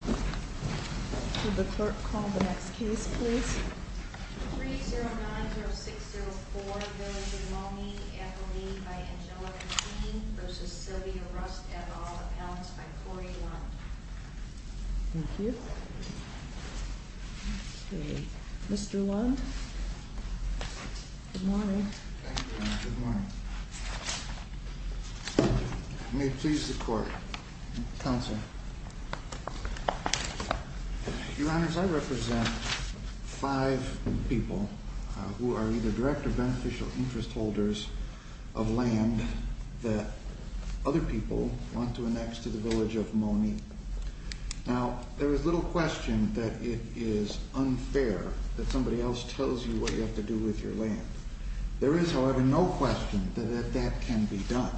Would the clerk call the next case, please? 3-090604 Monee v. Monee Appellee by Angelica Dean v. Sylvia Rust Add all the Pounds by Corey Lund Thank you. Okay. Mr. Lund? Good morning. Thank you, ma'am. Good morning. May it please the court. Counsel. Your Honor, I represent five people who are either direct or beneficial interest holders of land that other people want to annex to the village of Monee. Now, there is little question that it is unfair that somebody else tells you what you have to do with your land. There is, however, no question that that can be done.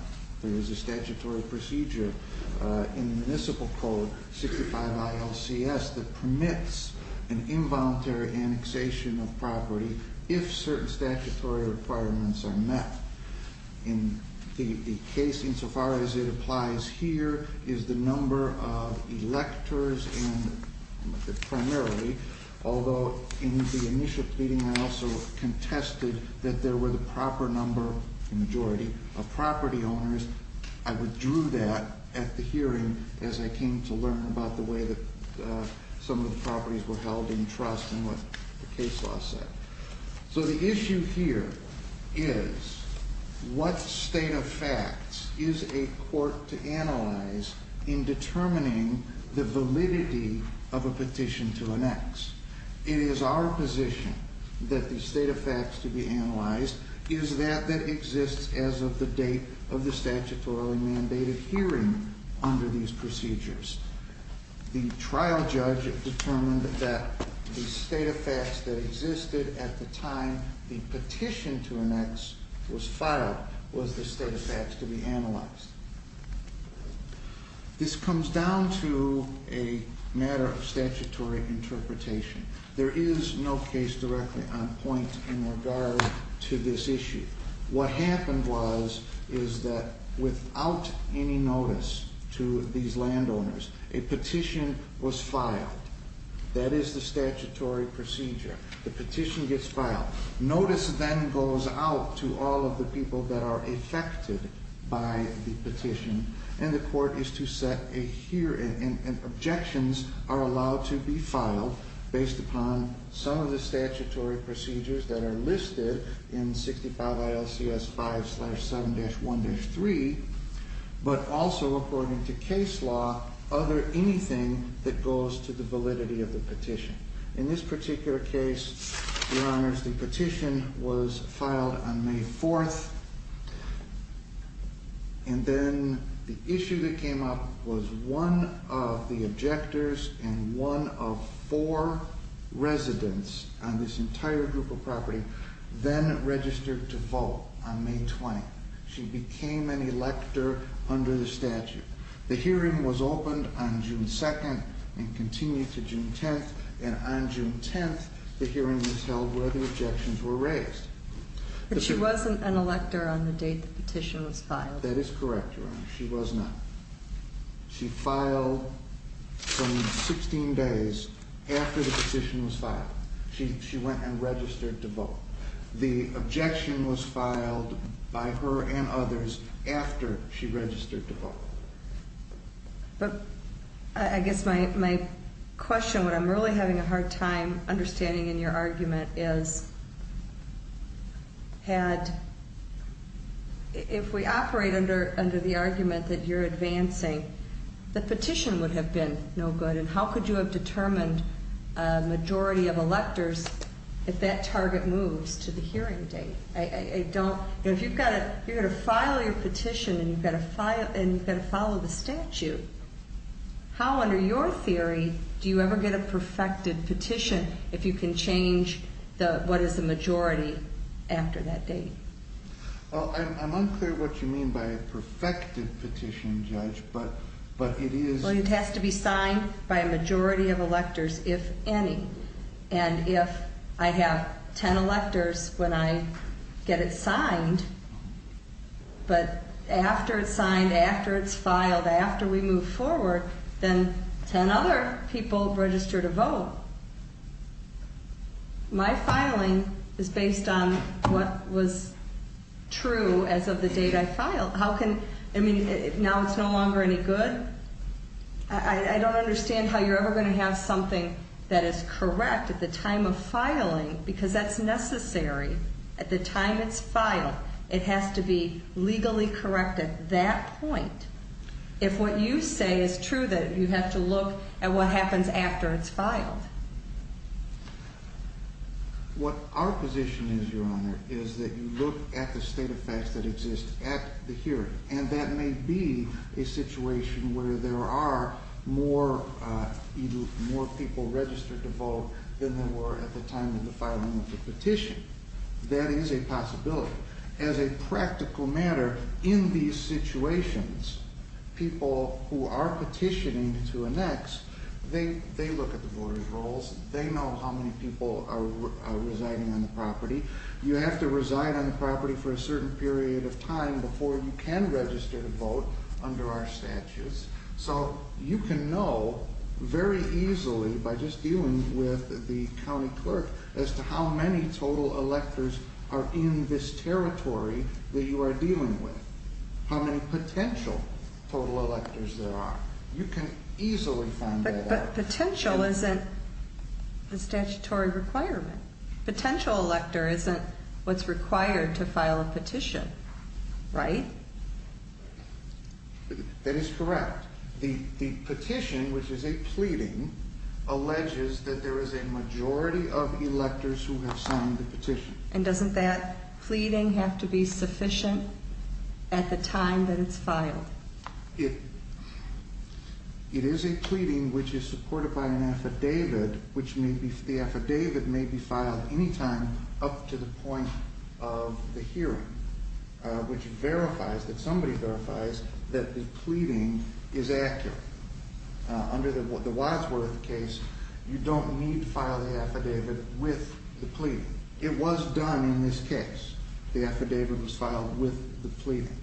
There is a statutory procedure in the Municipal Code 65ILCS that permits an involuntary annexation of property if certain statutory requirements are met. In the case, insofar as it applies here, is the number of electors and primarily, although in the initial pleading I also contested that there were the proper number, the majority, of property owners. I withdrew that at the hearing as I came to learn about the way that some of the properties were held in trust and what the case law said. So the issue here is, what state of facts is a court to analyze in determining the validity of a petition to annex? It is our position that the state of facts to be analyzed is that that exists as of the date of the statutorily mandated hearing under these procedures. The trial judge determined that the state of facts that existed at the time the petition to annex was filed was the state of facts to be analyzed. This comes down to a matter of statutory interpretation. There is no case directly on point in regard to this issue. What happened was, is that without any notice to these landowners, a petition was filed. That is the statutory procedure. The petition gets filed. Notice then goes out to all of the people that are affected by the petition, and the court is to set a hearing, and objections are allowed to be filed based upon some of the statutory procedures that are listed in 65 ILCS 5-7-1-3, but also according to case law, other anything that goes to the validity of the petition. In this particular case, Your Honors, the petition was filed on May 4th. And then the issue that came up was one of the objectors and one of four residents on this entire group of property then registered to vote on May 20th. She became an elector under the statute. The hearing was opened on June 2nd and continued to June 10th, and on June 10th, the hearing was held where the objections were raised. But she wasn't an elector on the date the petition was filed. That is correct, Your Honor. She was not. She filed some 16 days after the petition was filed. She went and registered to vote. The objection was filed by her and others after she registered to vote. But I guess my question, what I'm really having a hard time understanding in your argument is if we operate under the argument that you're advancing, the petition would have been no good, and how could you have determined a majority of electors if that target moves to the hearing date? If you're going to file your petition and you've got to follow the statute, how, under your theory, do you ever get a perfected petition if you can change what is the majority after that date? Well, I'm unclear what you mean by a perfected petition, Judge, but it is... Well, it has to be signed by a majority of electors, if any. And if I have 10 electors when I get it signed, but after it's signed, after it's filed, after we move forward, then 10 other people register to vote. My filing is based on what was true as of the date I filed. How can... I mean, now it's no longer any good? I don't understand how you're ever going to have something that is correct at the time of filing because that's necessary. At the time it's filed, it has to be legally correct at that point. If what you say is true, then you have to look at what happens after it's filed. What our position is, Your Honor, is that you look at the state of facts that exist at the hearing, and that may be a situation where there are more people registered to vote than there were at the time of the filing of the petition. That is a possibility. As a practical matter, in these situations, people who are petitioning to annex, they look at the voters' rolls. They know how many people are residing on the property. You have to reside on the property for a certain period of time before you can register to vote under our statutes. So you can know very easily by just dealing with the county clerk as to how many total electors are in this territory that you are dealing with, how many potential total electors there are. You can easily find that out. But potential isn't a statutory requirement. Potential elector isn't what's required to file a petition, right? That is correct. The petition, which is a pleading, alleges that there is a majority of electors who have signed the petition. And doesn't that pleading have to be sufficient at the time that it's filed? It is a pleading which is supported by an affidavit, which the affidavit may be filed any time up to the point of the hearing, which verifies, that somebody verifies, that the pleading is accurate. Under the Wadsworth case, you don't need to file the affidavit with the pleading. It was done in this case. The affidavit was filed with the pleading.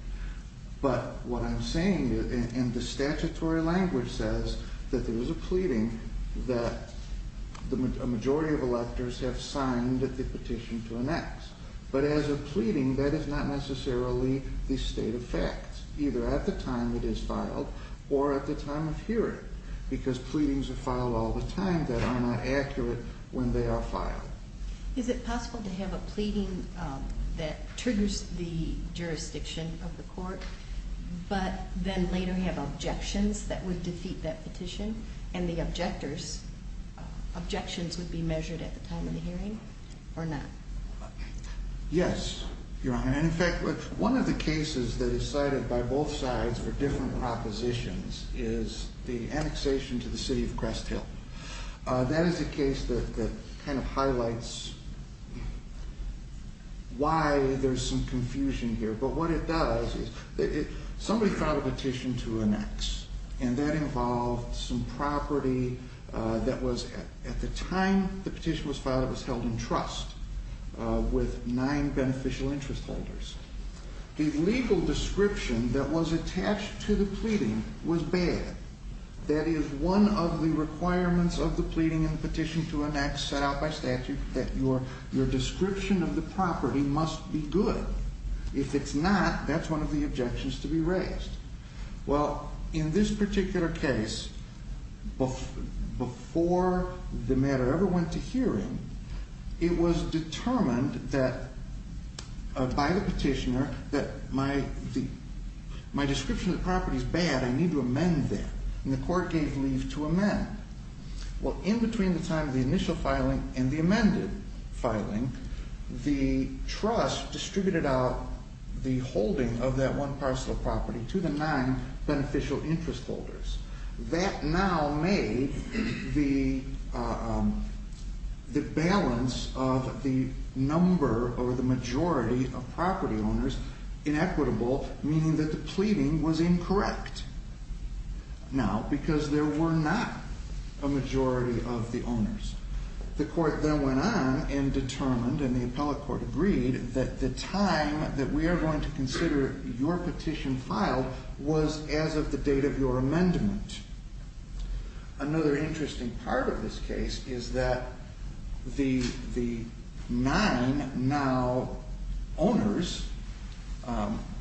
But what I'm saying, and the statutory language says, that there is a pleading that a majority of electors have signed the petition to enact. But as a pleading, that is not necessarily the state of fact, either at the time it is filed or at the time of hearing, because pleadings are filed all the time that are not accurate when they are filed. Is it possible to have a pleading that triggers the jurisdiction of the court, but then later have objections that would defeat that petition, and the objectors' objections would be measured at the time of the hearing, or not? Yes, you're right. In fact, one of the cases that is cited by both sides for different propositions is the annexation to the city of Crest Hill. That is a case that kind of highlights why there's some confusion here. But what it does is somebody filed a petition to annex, and that involved some property that was, at the time the petition was filed, that was held in trust with nine beneficial interest holders. The legal description that was attached to the pleading was bad. That is one of the requirements of the pleading in the petition to annex set out by statute, that your description of the property must be good. If it's not, that's one of the objections to be raised. Well, in this particular case, before the matter ever went to hearing, it was determined by the petitioner that my description of the property is bad, I need to amend that, and the court gave leave to amend. Well, in between the time of the initial filing and the amended filing, the trust distributed out the holding of that one parcel of property to the nine beneficial interest holders. That now made the balance of the number or the majority of property owners inequitable, meaning that the pleading was incorrect now because there were not a majority of the owners. The court then went on and determined, and the appellate court agreed, that the time that we are going to consider your petition filed was as of the date of your amendment. Another interesting part of this case is that the nine now owners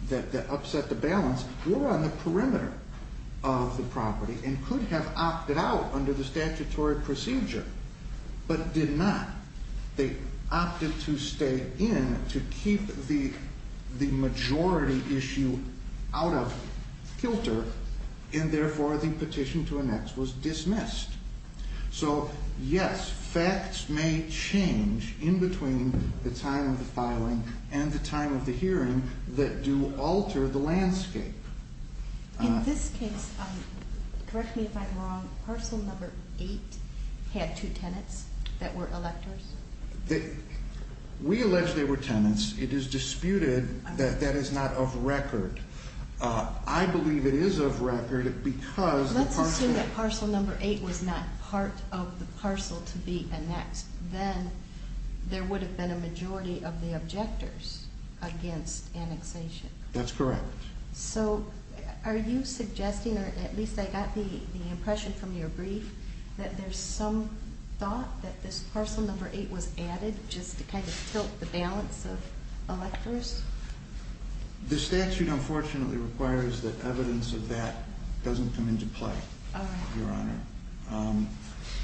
that upset the balance were on the perimeter of the property and could have opted out under the statutory procedure. But did not. They opted to stay in to keep the majority issue out of filter, and therefore the petition to annex was dismissed. So, yes, facts may change in between the time of the filing and the time of the hearing that do alter the landscape. In this case, correct me if I'm wrong, parcel number eight had two tenants that were electors? We allege they were tenants. It is disputed that that is not of record. I believe it is of record because the parcel... Let's assume that parcel number eight was not part of the parcel to be annexed. Then there would have been a majority of the objectors against annexation. That's correct. So are you suggesting, or at least I got the impression from your brief, that there's some thought that this parcel number eight was added just to kind of tilt the balance of electors? The statute, unfortunately, requires that evidence of that doesn't come into play, Your Honor.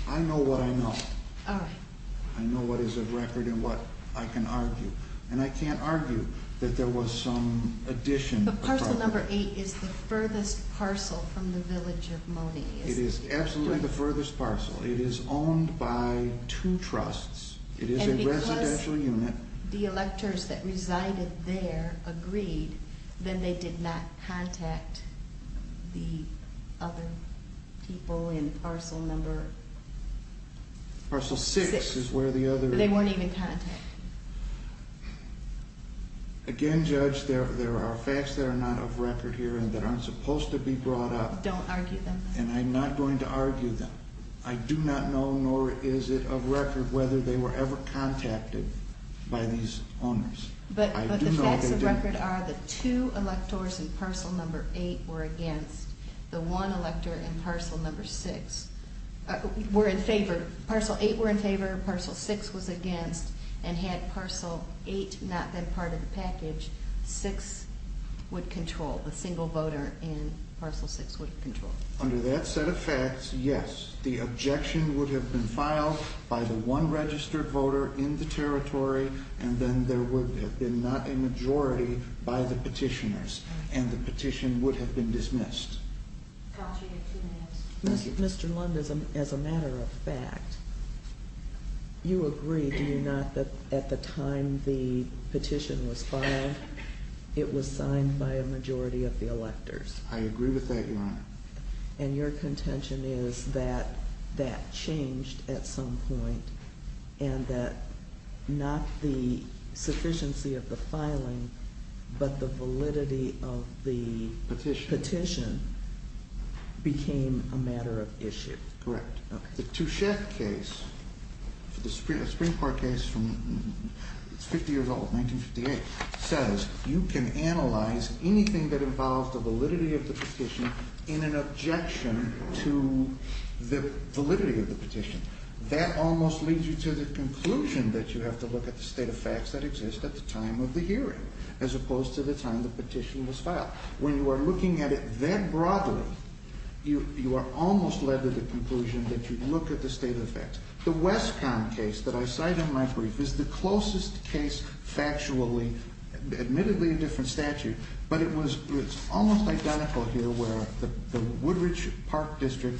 I know what I know. All right. I know what is of record and what I can argue. And I can't argue that there was some addition. But parcel number eight is the furthest parcel from the village of Monee, is it? It is absolutely the furthest parcel. It is owned by two trusts. It is a residential unit. And because the electors that resided there agreed, then they did not contact the other people in parcel number... Parcel six is where the other... They weren't even contacted. Again, Judge, there are facts that are not of record here and that aren't supposed to be brought up. Don't argue them. And I'm not going to argue them. I do not know, nor is it of record, whether they were ever contacted by these owners. But the facts of record are the two electors in parcel number eight were against. The one elector in parcel number six were in favor. Parcel eight were in favor. Parcel six was against. And had parcel eight not been part of the package, six would control. The single voter in parcel six would control. Under that set of facts, yes, the objection would have been filed by the one registered voter in the territory. And then there would have been not a majority by the petitioners. And the petition would have been dismissed. Counsel, you have two minutes. Mr. Lund, as a matter of fact, you agree, do you not, that at the time the petition was filed, it was signed by a majority of the electors? I agree with that, Your Honor. And your contention is that that changed at some point and that not the sufficiency of the filing, but the validity of the petition became a matter of issue. Correct. The Touchef case, the Supreme Court case from 50 years old, 1958, says you can analyze anything that involves the validity of the petition in an objection to the validity of the petition. That almost leads you to the conclusion that you have to look at the state of facts that exist at the time of the hearing as opposed to the time the petition was filed. When you are looking at it that broadly, you are almost led to the conclusion that you look at the state of the facts. The Wescon case that I cite in my brief is the closest case factually, admittedly a different statute, but it was almost identical here where the Woodridge Park District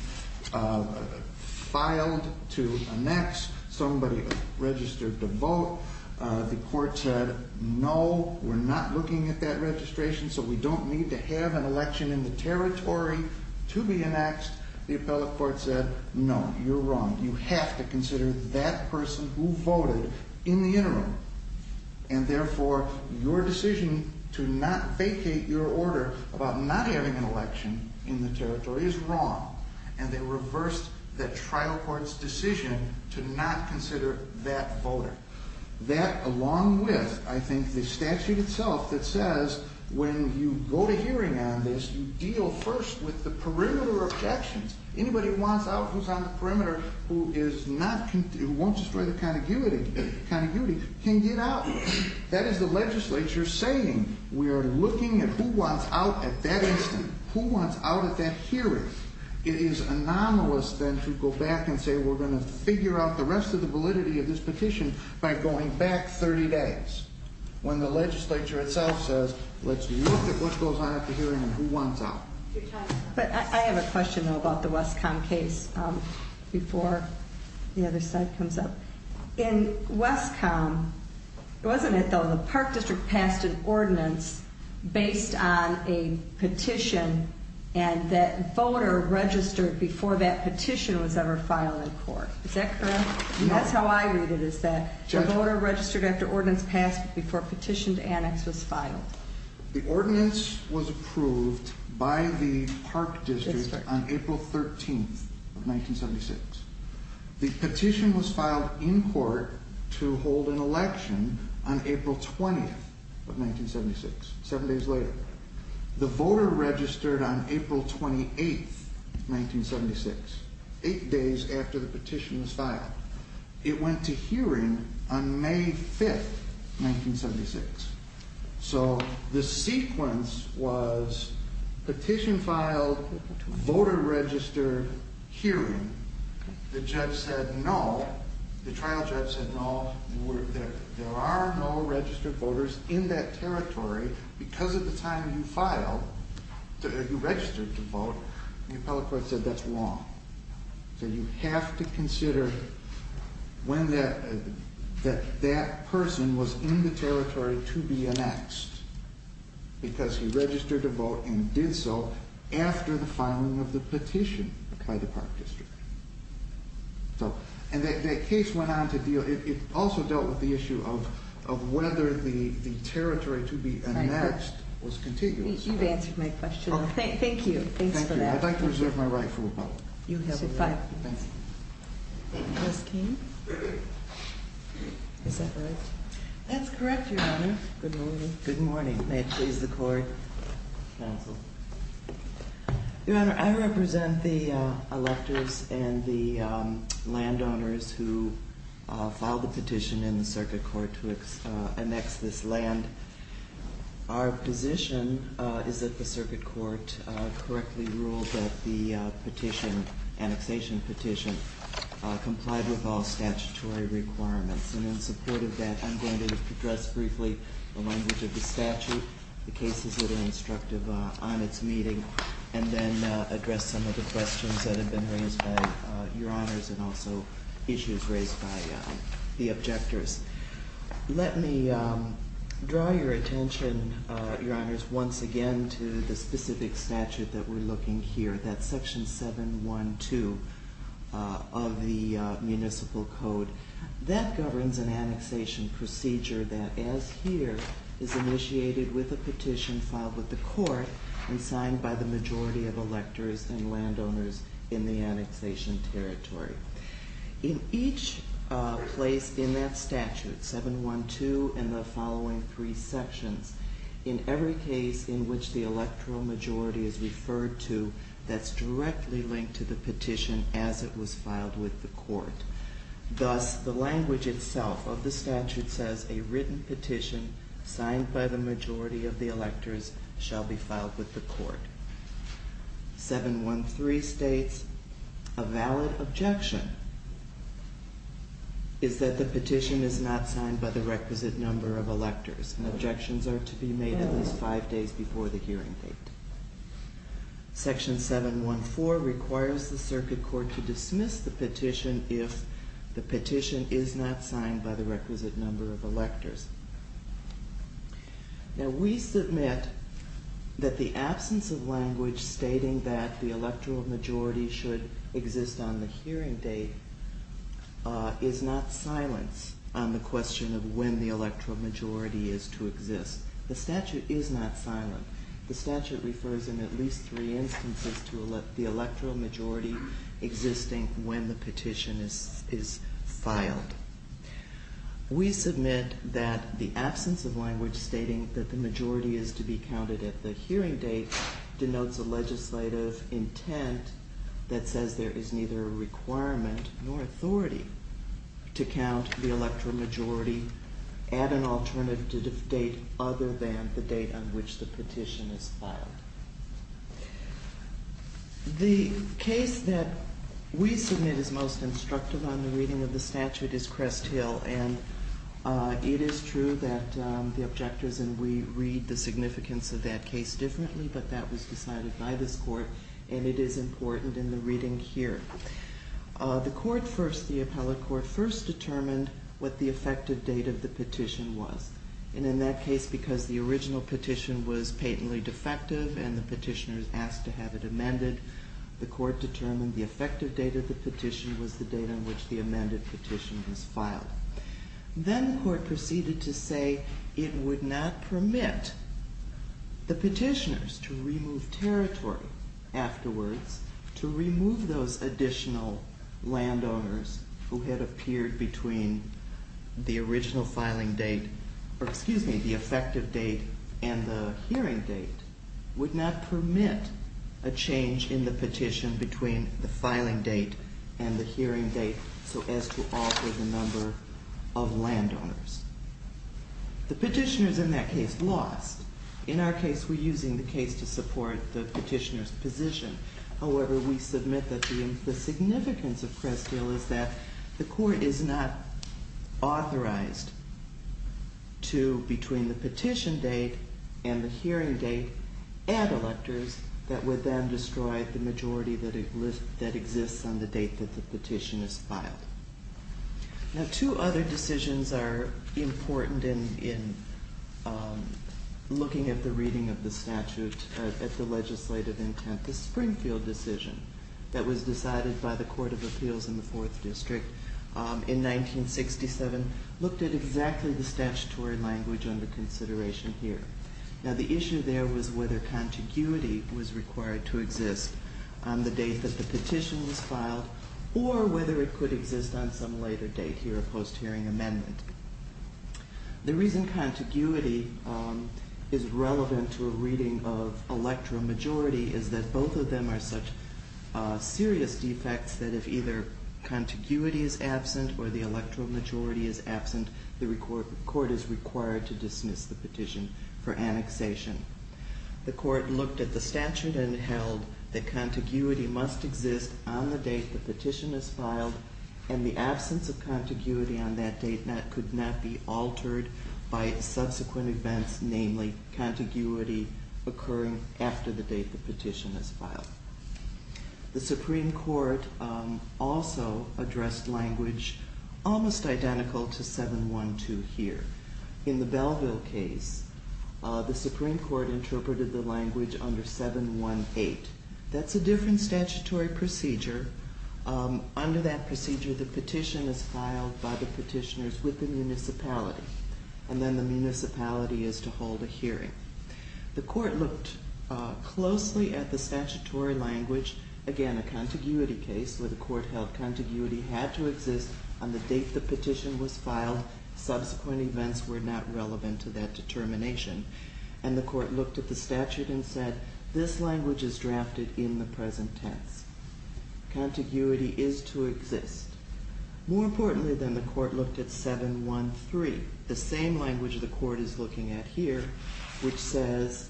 filed to annex. Somebody registered to vote. The court said, no, we're not looking at that registration, so we don't need to have an election in the territory to be annexed. The appellate court said, no, you're wrong. You have to consider that person who voted in the interim. And therefore, your decision to not vacate your order about not having an election in the territory is wrong. And they reversed the trial court's decision to not consider that voter. That along with, I think, the statute itself that says when you go to hearing on this, you deal first with the perimeter objections. Anybody who wants out, who's on the perimeter, who won't destroy the contiguity can get out. That is the legislature saying we are looking at who wants out at that instant, who wants out at that hearing. It is anomalous then to go back and say we're going to figure out the rest of the validity of this petition by going back 30 days. When the legislature itself says, let's look at what goes on at the hearing and who wants out. But I have a question about the Westcom case before the other side comes up. In Westcom, wasn't it though, the Park District passed an ordinance based on a petition and that voter registered before that petition was ever filed in court. Is that correct? That's how I read it, is that the voter registered after ordinance passed before petition to annex was filed. The ordinance was approved by the Park District on April 13th of 1976. The petition was filed in court to hold an election on April 20th of 1976, seven days later. The voter registered on April 28th, 1976, eight days after the petition was filed. It went to hearing on May 5th, 1976. So the sequence was petition filed, voter registered, hearing. The judge said no, the trial judge said no, there are no registered voters in that territory because at the time you registered to vote, the appellate court said that's wrong. So you have to consider when that person was in the territory to be annexed because he registered to vote and did so after the filing of the petition by the Park District. And that case went on to deal, it also dealt with the issue of whether the territory to be annexed was contiguous. You've answered my question. Thank you, thanks for that. I'd like to reserve my right for rebuttal. You have a right. Thank you. Ms. King? Is that right? That's correct, Your Honor. Good morning. Good morning. May it please the court. Counsel. Your Honor, I represent the electors and the landowners who filed the petition in the circuit court to annex this land. Our position is that the circuit court correctly ruled that the petition, annexation petition, complied with all statutory requirements. And in support of that, I'm going to address briefly the language of the statute, the cases that are instructive on its meeting, and then address some of the questions that have been raised by Your Honors and also issues raised by the objectors. Let me draw your attention, Your Honors, once again to the specific statute that we're looking here. That's Section 712 of the Municipal Code. That governs an annexation procedure that, as here, is initiated with a petition filed with the court and signed by the majority of electors and landowners in the annexation territory. In each place in that statute, 712 and the following three sections, in every case in which the electoral majority is referred to, that's directly linked to the petition as it was filed with the court. Thus, the language itself of the statute says a written petition signed by the majority of the electors shall be filed with the court. 713 states a valid objection is that the petition is not signed by the requisite number of electors, and objections are to be made at least five days before the hearing date. Section 714 requires the circuit court to dismiss the petition if the petition is not signed by the requisite number of electors. Now, we submit that the absence of language stating that the electoral majority should exist on the hearing date is not silence on the question of when the electoral majority is to exist. The statute is not silent. The statute refers in at least three instances to the electoral majority existing when the petition is filed. We submit that the absence of language stating that the majority is to be counted at the hearing date denotes a legislative intent that says there is neither a requirement nor authority to count the electoral majority at an alternative date other than the date on which the petition is filed. The case that we submit is most instructive on the reading of the statute is Crest Hill, and it is true that the objectors and we read the significance of that case differently, but that was decided by this court, and it is important in the reading here. The court first, the appellate court first determined what the effective date of the petition was, and in that case, because the original petition was patently defective and the petitioners asked to have it amended, the court determined the effective date of the petition was the date on which the amended petition was filed. Then the court proceeded to say it would not permit the petitioners to remove territory afterwards, to remove those additional landowners who had appeared between the original filing date, or excuse me, the effective date and the hearing date, would not permit a change in the petition between the filing date and the hearing date so as to alter the number of landowners. The petitioners in that case lost. In our case, we're using the case to support the petitioner's position. However, we submit that the significance of Crest Hill is that the court is not authorized to, between the petition date and the hearing date, add electors that would then destroy the majority that exists on the date that the petition is filed. Now two other decisions are important in looking at the reading of the statute, at the legislative intent. The Springfield decision that was decided by the Court of Appeals in the Fourth District in 1967 looked at exactly the statutory language under consideration here. Now the issue there was whether contiguity was required to exist on the date that the petition was filed or whether it could exist on some later date here, a post-hearing amendment. The reason contiguity is relevant to a reading of electoral majority is that both of them are such serious defects that if either contiguity is absent or the electoral majority is absent, the court is required to dismiss the petition for annexation. The court looked at the statute and held that contiguity must exist on the date the petition is filed and the absence of contiguity on that date could not be altered by subsequent events, namely contiguity occurring after the date the petition is filed. The Supreme Court also addressed language almost identical to 7-1-2 here. In the Belleville case, the Supreme Court interpreted the language under 7-1-8. That's a different statutory procedure. Under that procedure, the petition is filed by the petitioners with the municipality, and then the municipality is to hold a hearing. The court looked closely at the statutory language, again a contiguity case where the court held contiguity had to exist on the date the petition was filed. Subsequent events were not relevant to that determination, and the court looked at the statute and said this language is drafted in the present tense. Contiguity is to exist. More importantly, then, the court looked at 7-1-3, the same language the court is looking at here, which says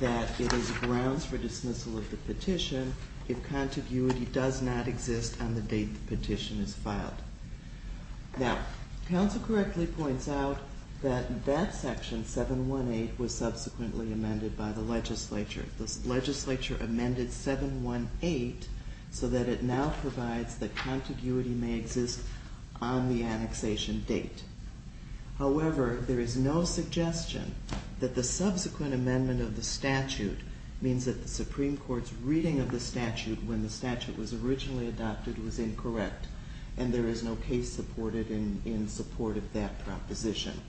that it is grounds for dismissal of the petition if contiguity does not exist on the date the petition is filed. Now, counsel correctly points out that that section, 7-1-8, was subsequently amended by the legislature. The legislature amended 7-1-8 so that it now provides that contiguity may exist on the annexation date. However, there is no suggestion that the subsequent amendment of the statute means that the Supreme Court's reading of the statute when the statute was originally adopted was incorrect, and there is no case supported in support of that proposition.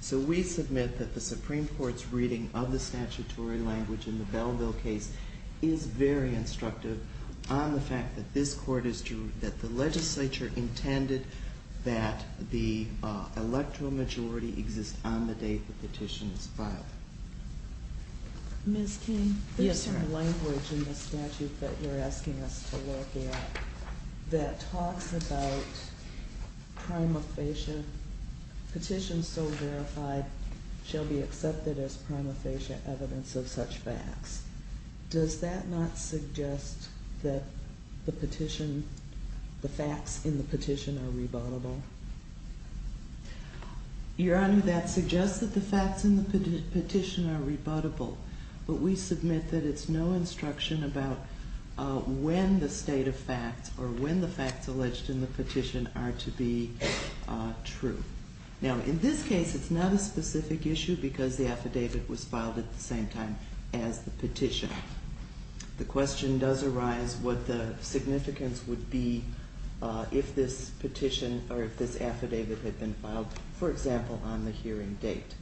So we submit that the Supreme Court's reading of the statutory language in the Belleville case is very instructive on the fact that the legislature intended that the electoral majority exist on the date the petition was filed. Ms. King, there's some language in the statute that you're asking us to look at that talks about prima facie, petitions so verified shall be accepted as prima facie evidence of such facts. Does that not suggest that the petition, the facts in the petition are rebuttable? Your Honor, that suggests that the facts in the petition are rebuttable, but we submit that it's no instruction about when the state of facts or when the facts alleged in the petition are to be true. Now, in this case, it's not a specific issue because the affidavit was filed at the same time as the petition. The question does arise what the significance would be if this affidavit had been filed, for example, on the hearing date.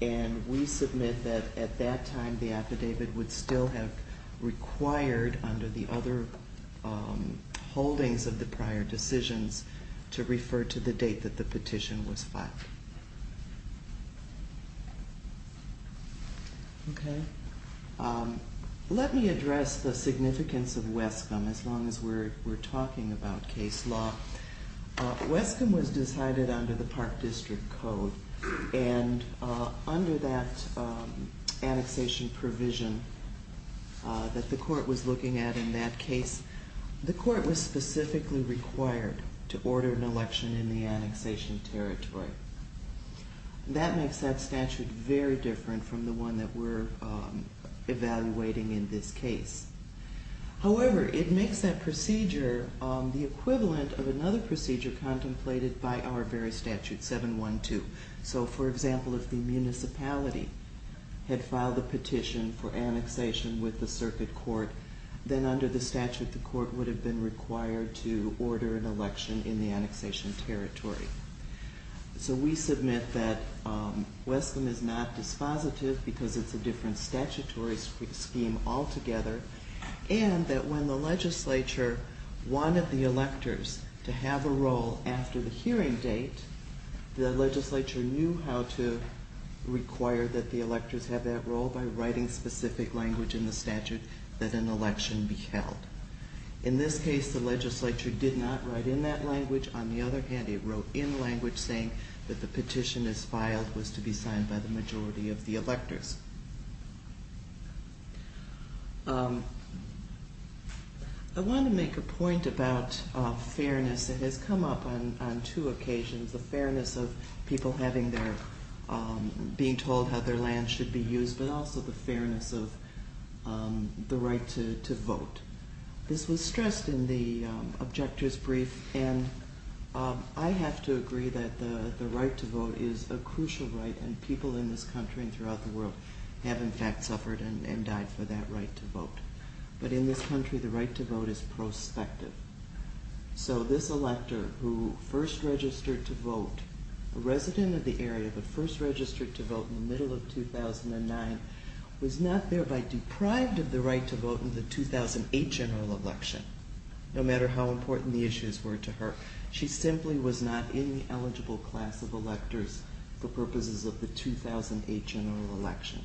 And we submit that at that time the affidavit would still have required, under the other holdings of the prior decisions, to refer to the date that the petition was filed. Okay. Let me address the significance of Wescom as long as we're talking about case law. Wescom was decided under the Park District Code and under that annexation provision that the court was looking at in that case, the court was specifically required to order an election in the annexation territory. That makes that statute very different from the one that we're evaluating in this case. However, it makes that procedure the equivalent of another procedure contemplated by our very statute, 712. So, for example, if the municipality had filed a petition for annexation with the circuit court, then under the statute the court would have been required to order an election in the annexation territory. So we submit that Wescom is not dispositive because it's a different statutory scheme altogether, and that when the legislature wanted the electors to have a role after the hearing date, the legislature knew how to require that the electors have that role by writing specific language in the statute that an election be held. In this case, the legislature did not write in that language. On the other hand, it wrote in language saying that the petition that was filed was to be signed by the majority of the electors. I want to make a point about fairness that has come up on two occasions. The fairness of people having their, being told how their land should be used, but also the fairness of the right to vote. This was stressed in the objector's brief, and I have to agree that the right to vote is a crucial right, and people in this country and throughout the world have in fact suffered and died for that right to vote. But in this country, the right to vote is prospective. So this elector who first registered to vote, a resident of the area but first registered to vote in the middle of 2009, was not thereby deprived of the right to vote in the 2008 general election, no matter how important the issues were to her. She simply was not in the eligible class of electors for purposes of the 2008 general election.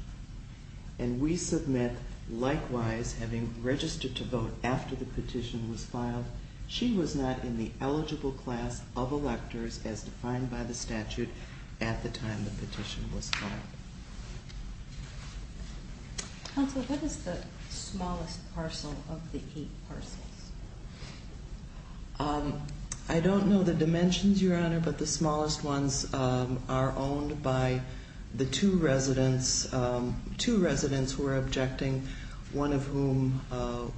And we submit, likewise, having registered to vote after the petition was filed, she was not in the eligible class of electors as defined by the statute at the time the petition was filed. Counsel, what is the smallest parcel of the eight parcels? I don't know the dimensions, Your Honor, but the smallest ones are owned by the two residents, two residents who are objecting, one of whom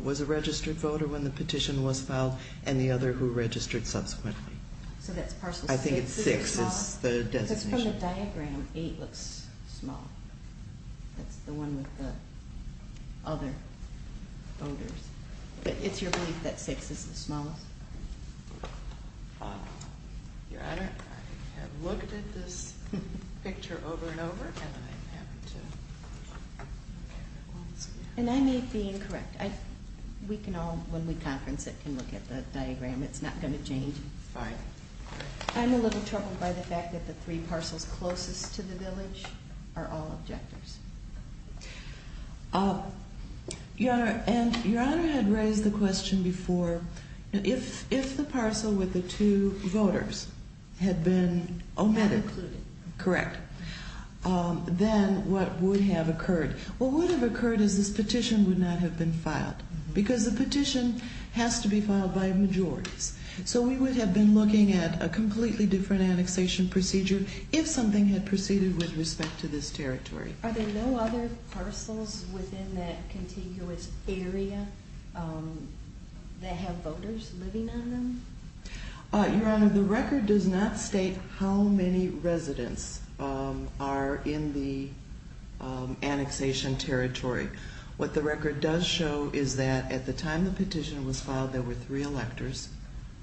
was a registered voter when the petition was filed, and the other who registered subsequently. So that's parcel six? I think it's six. It's the designation. But in the diagram, eight looks small. That's the one with the other voters. But it's your belief that six is the smallest? Your Honor, I have looked at this picture over and over, and I happen to... And I may be incorrect. We can all, when we conference it, can look at the diagram. It's not going to change. Fine. I'm a little troubled by the fact that the three parcels closest to the village are all objectors. Your Honor, and Your Honor had raised the question before, if the parcel with the two voters had been omitted... Not included. Correct. Then what would have occurred? What would have occurred is this petition would not have been filed, because the petition has to be filed by a majority. So we would have been looking at a completely different annexation procedure if something had proceeded with respect to this territory. Are there no other parcels within that contiguous area that have voters living on them? Your Honor, the record does not state how many residents are in the annexation territory. What the record does show is that at the time the petition was filed, there were three electors,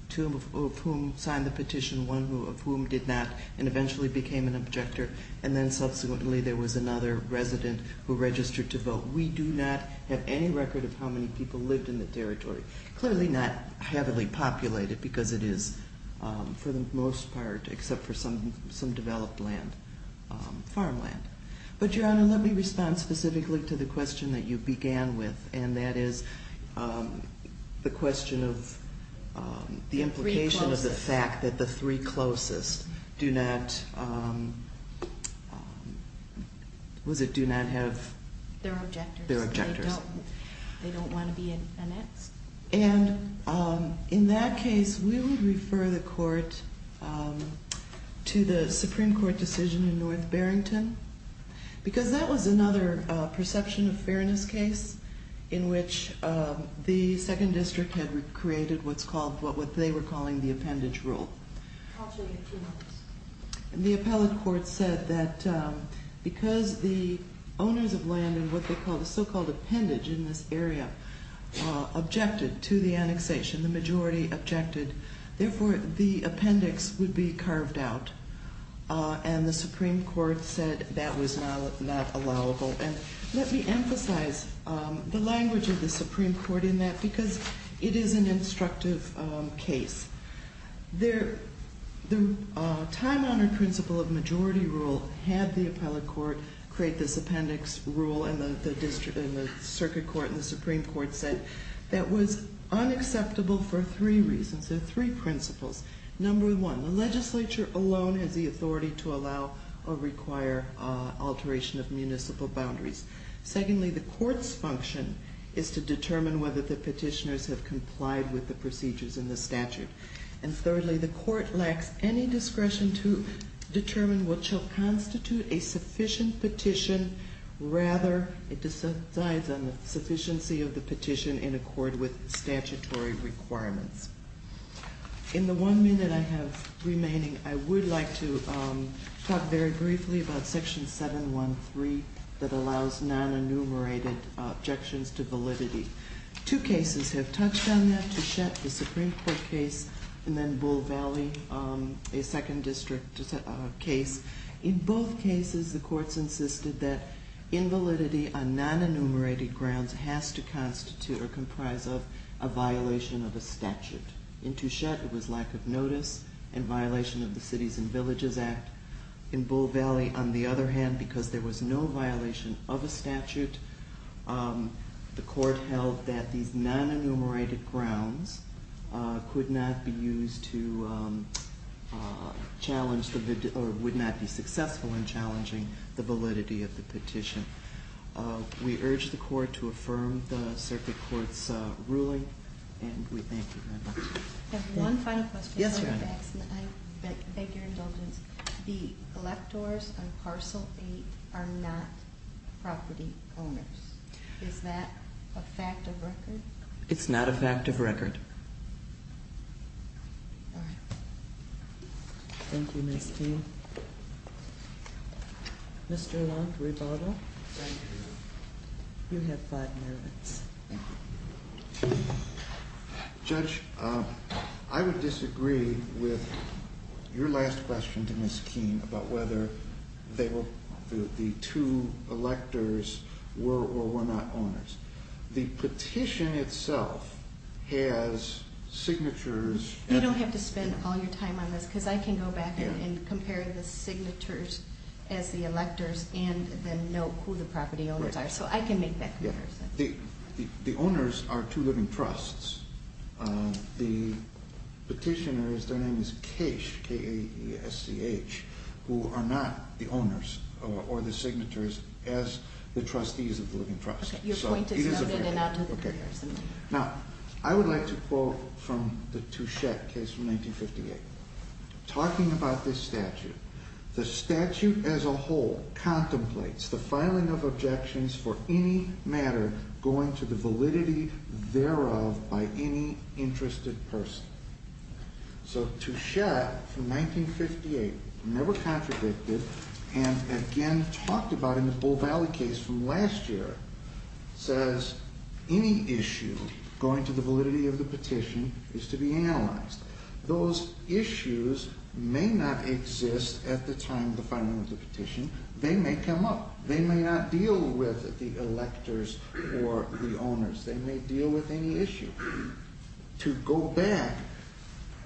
two of whom signed the petition, one of whom did not, and eventually became an objector. And then subsequently there was another resident who registered to vote. We do not have any record of how many people lived in the territory. Clearly not heavily populated, because it is, for the most part, except for some developed land, farmland. But, Your Honor, let me respond specifically to the question that you began with, and that is the question of the implication of the fact that the three closest do not... Was it do not have... They're objectors. They're objectors. They don't want to be annexed. And in that case, we would refer the Court to the Supreme Court decision in North Barrington, because that was another perception of fairness case, in which the Second District had created what they were calling the appendage rule. I'll show you a few numbers. The appellate court said that because the owners of land in what they call the so-called appendage in this area objected to the annexation, the majority objected, therefore the appendix would be carved out. And the Supreme Court said that was not allowable. And let me emphasize the language of the Supreme Court in that, because it is an instructive case. The time-honored principle of majority rule had the appellate court create this appendix rule, and the circuit court and the Supreme Court said that was unacceptable for three reasons. There are three principles. Number one, the legislature alone has the authority to allow or require alteration of municipal boundaries. Secondly, the court's function is to determine whether the petitioners have complied with the procedures in the statute. And thirdly, the court lacks any discretion to determine what shall constitute a sufficient petition. Rather, it decides on the sufficiency of the petition in accord with statutory requirements. In the one minute I have remaining, I would like to talk very briefly about Section 713 that allows non-enumerated objections to validity. Two cases have touched on that. Touchette, the Supreme Court case, and then Bull Valley, a second district case. In both cases, the courts insisted that invalidity on non-enumerated grounds has to constitute or comprise of a violation of a statute. In Touchette, it was lack of notice and violation of the Cities and Villages Act. In Bull Valley, on the other hand, because there was no violation of a statute, the court held that these non-enumerated grounds could not be used to challenge or would not be successful in challenging the validity of the petition. We urge the court to affirm the circuit court's ruling, and we thank you very much. I have one final question. Yes, Your Honor. I beg your indulgence. The electors on parcel eight are not property owners. Is that a fact of record? It's not a fact of record. Thank you, Ms. King. Mr. Long, rebuttal. Thank you. You have five minutes. Thank you. Judge, I would disagree with your last question to Ms. King about whether the two electors were or were not owners. The petition itself has signatures. You don't have to spend all your time on this, because I can go back and compare the signatures as the electors and then know who the property owners are. So I can make that comparison. The owners are two living trusts. The petitioner, their name is Kesch, K-A-E-S-C-H, who are not the owners or the signatories as the trustees of the living trust. Okay. Your point is noted and I'll take it. Okay. Now, I would like to quote from the Touchette case from 1958. Talking about this statute, the statute as a whole contemplates the filing of objections for any matter going to the validity thereof by any interested person. So Touchette, from 1958, never contradicted, and again talked about in the Bull Valley case from last year, says any issue going to the validity of the petition is to be analyzed. Those issues may not exist at the time of the filing of the petition. They may come up. They may not deal with the electors or the owners. They may deal with any issue. To go back,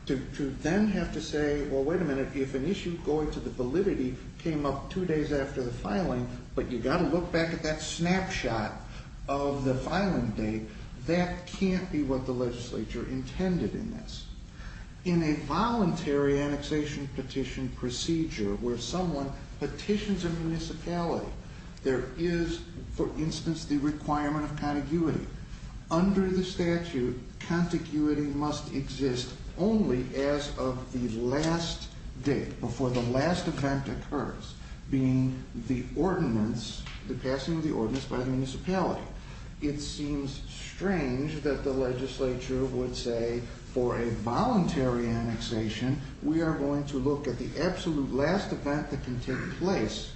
to then have to say, well, wait a minute, if an issue going to the validity came up two days after the filing, but you've got to look back at that snapshot of the filing date, that can't be what the legislature intended in this. In a voluntary annexation petition procedure where someone petitions a municipality, there is, for instance, the requirement of contiguity. Under the statute, contiguity must exist only as of the last date, before the last event occurs, being the ordinance, the passing of the ordinance by the municipality. It seems strange that the legislature would say, for a voluntary annexation, we are going to look at the absolute last event that can take place.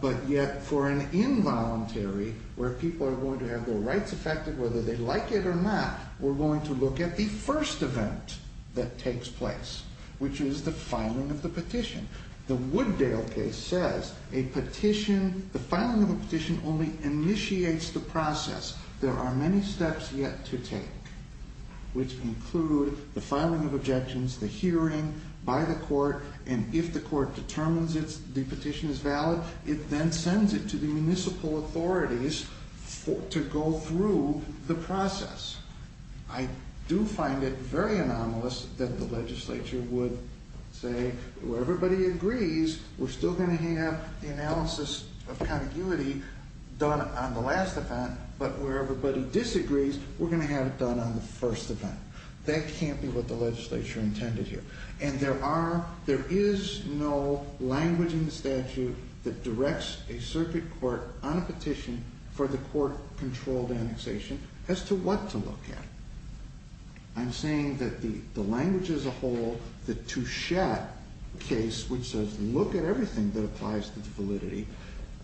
But yet, for an involuntary, where people are going to have their rights affected, whether they like it or not, we're going to look at the first event that takes place, which is the filing of the petition. The Wooddale case says a petition, the filing of a petition only initiates the process. There are many steps yet to take, which include the filing of objections, the hearing by the court, and if the court determines the petition is valid, it then sends it to the municipal authorities to go through the process. I do find it very anomalous that the legislature would say where everybody agrees, we're still going to have the analysis of contiguity done on the last event, but where everybody disagrees, we're going to have it done on the first event. That can't be what the legislature intended here. And there is no language in the statute that directs a circuit court on a petition for the court-controlled annexation as to what to look at. I'm saying that the language as a whole, the Touchette case, which says look at everything that applies to validity,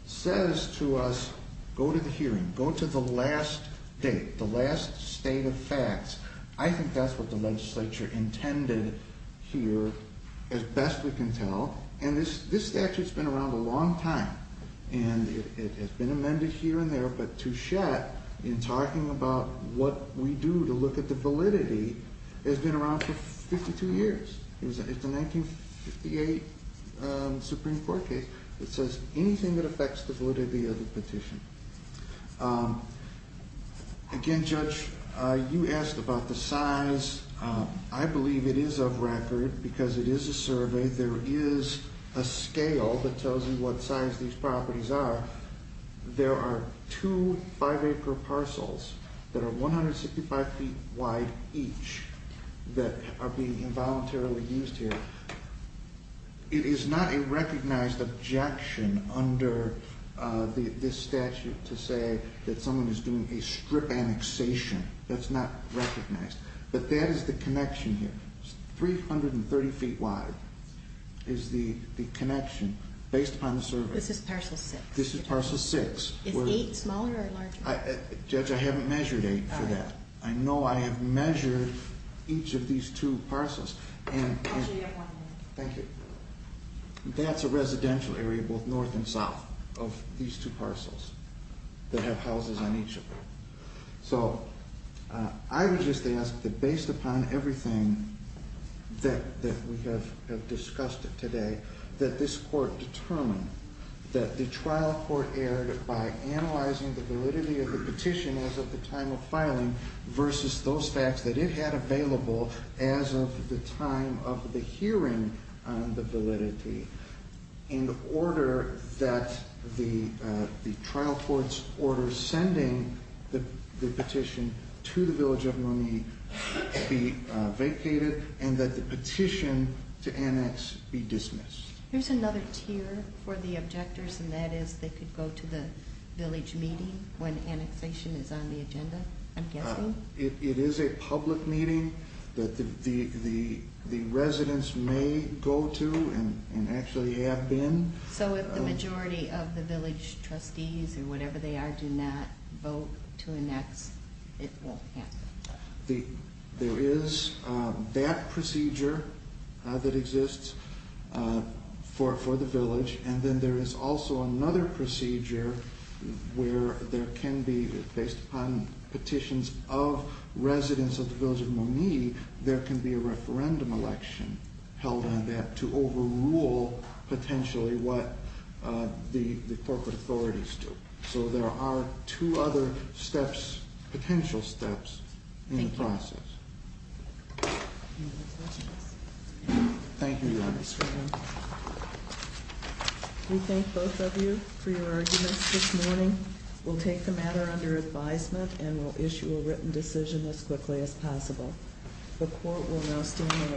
says to us go to the hearing, go to the last date, the last state of facts. I think that's what the legislature intended here, as best we can tell. And this statute's been around a long time, and it has been amended here and there, but Touchette, in talking about what we do to look at the validity, has been around for 52 years. It's a 1958 Supreme Court case that says anything that affects the validity of the petition. Again, Judge, you asked about the size. I believe it is of record, because it is a survey. There is a scale that tells you what size these properties are. There are two five-acre parcels that are 165 feet wide each that are being involuntarily used here. It is not a recognized objection under this statute to say that someone is doing a strip annexation. That's not recognized. But that is the connection here. 330 feet wide is the connection, based upon the survey. This is parcel 6. This is parcel 6. Is 8 smaller or larger? Judge, I haven't measured 8 for that. I know I have measured each of these two parcels. Actually, you have one more. Thank you. That's a residential area, both north and south, of these two parcels that have houses on each of them. So, I would just ask that, based upon everything that we have discussed today, that this court determine that the trial court erred by analyzing the validity of the petition as of the time of filing versus those facts that it had available as of the time of the hearing on the validity, in order that the trial court's order sending the petition to the village of Moni be vacated and that the petition to annex be dismissed. Here's another tier for the objectors, and that is they could go to the village meeting when annexation is on the agenda, I'm guessing. It is a public meeting that the residents may go to and actually have been. So, if the majority of the village trustees or whatever they are do not vote to annex, it won't happen? There is that procedure that exists for the village, and then there is also another procedure where there can be, based upon petitions of residents of the village of Moni, there can be a referendum election held on that to overrule potentially what the corporate authorities do. So, there are two other steps, potential steps, in the process. Thank you. Thank you, Your Honor. We thank both of you for your arguments this morning. We'll take the matter under advisement and we'll issue a written decision as quickly as possible. The court will now stand.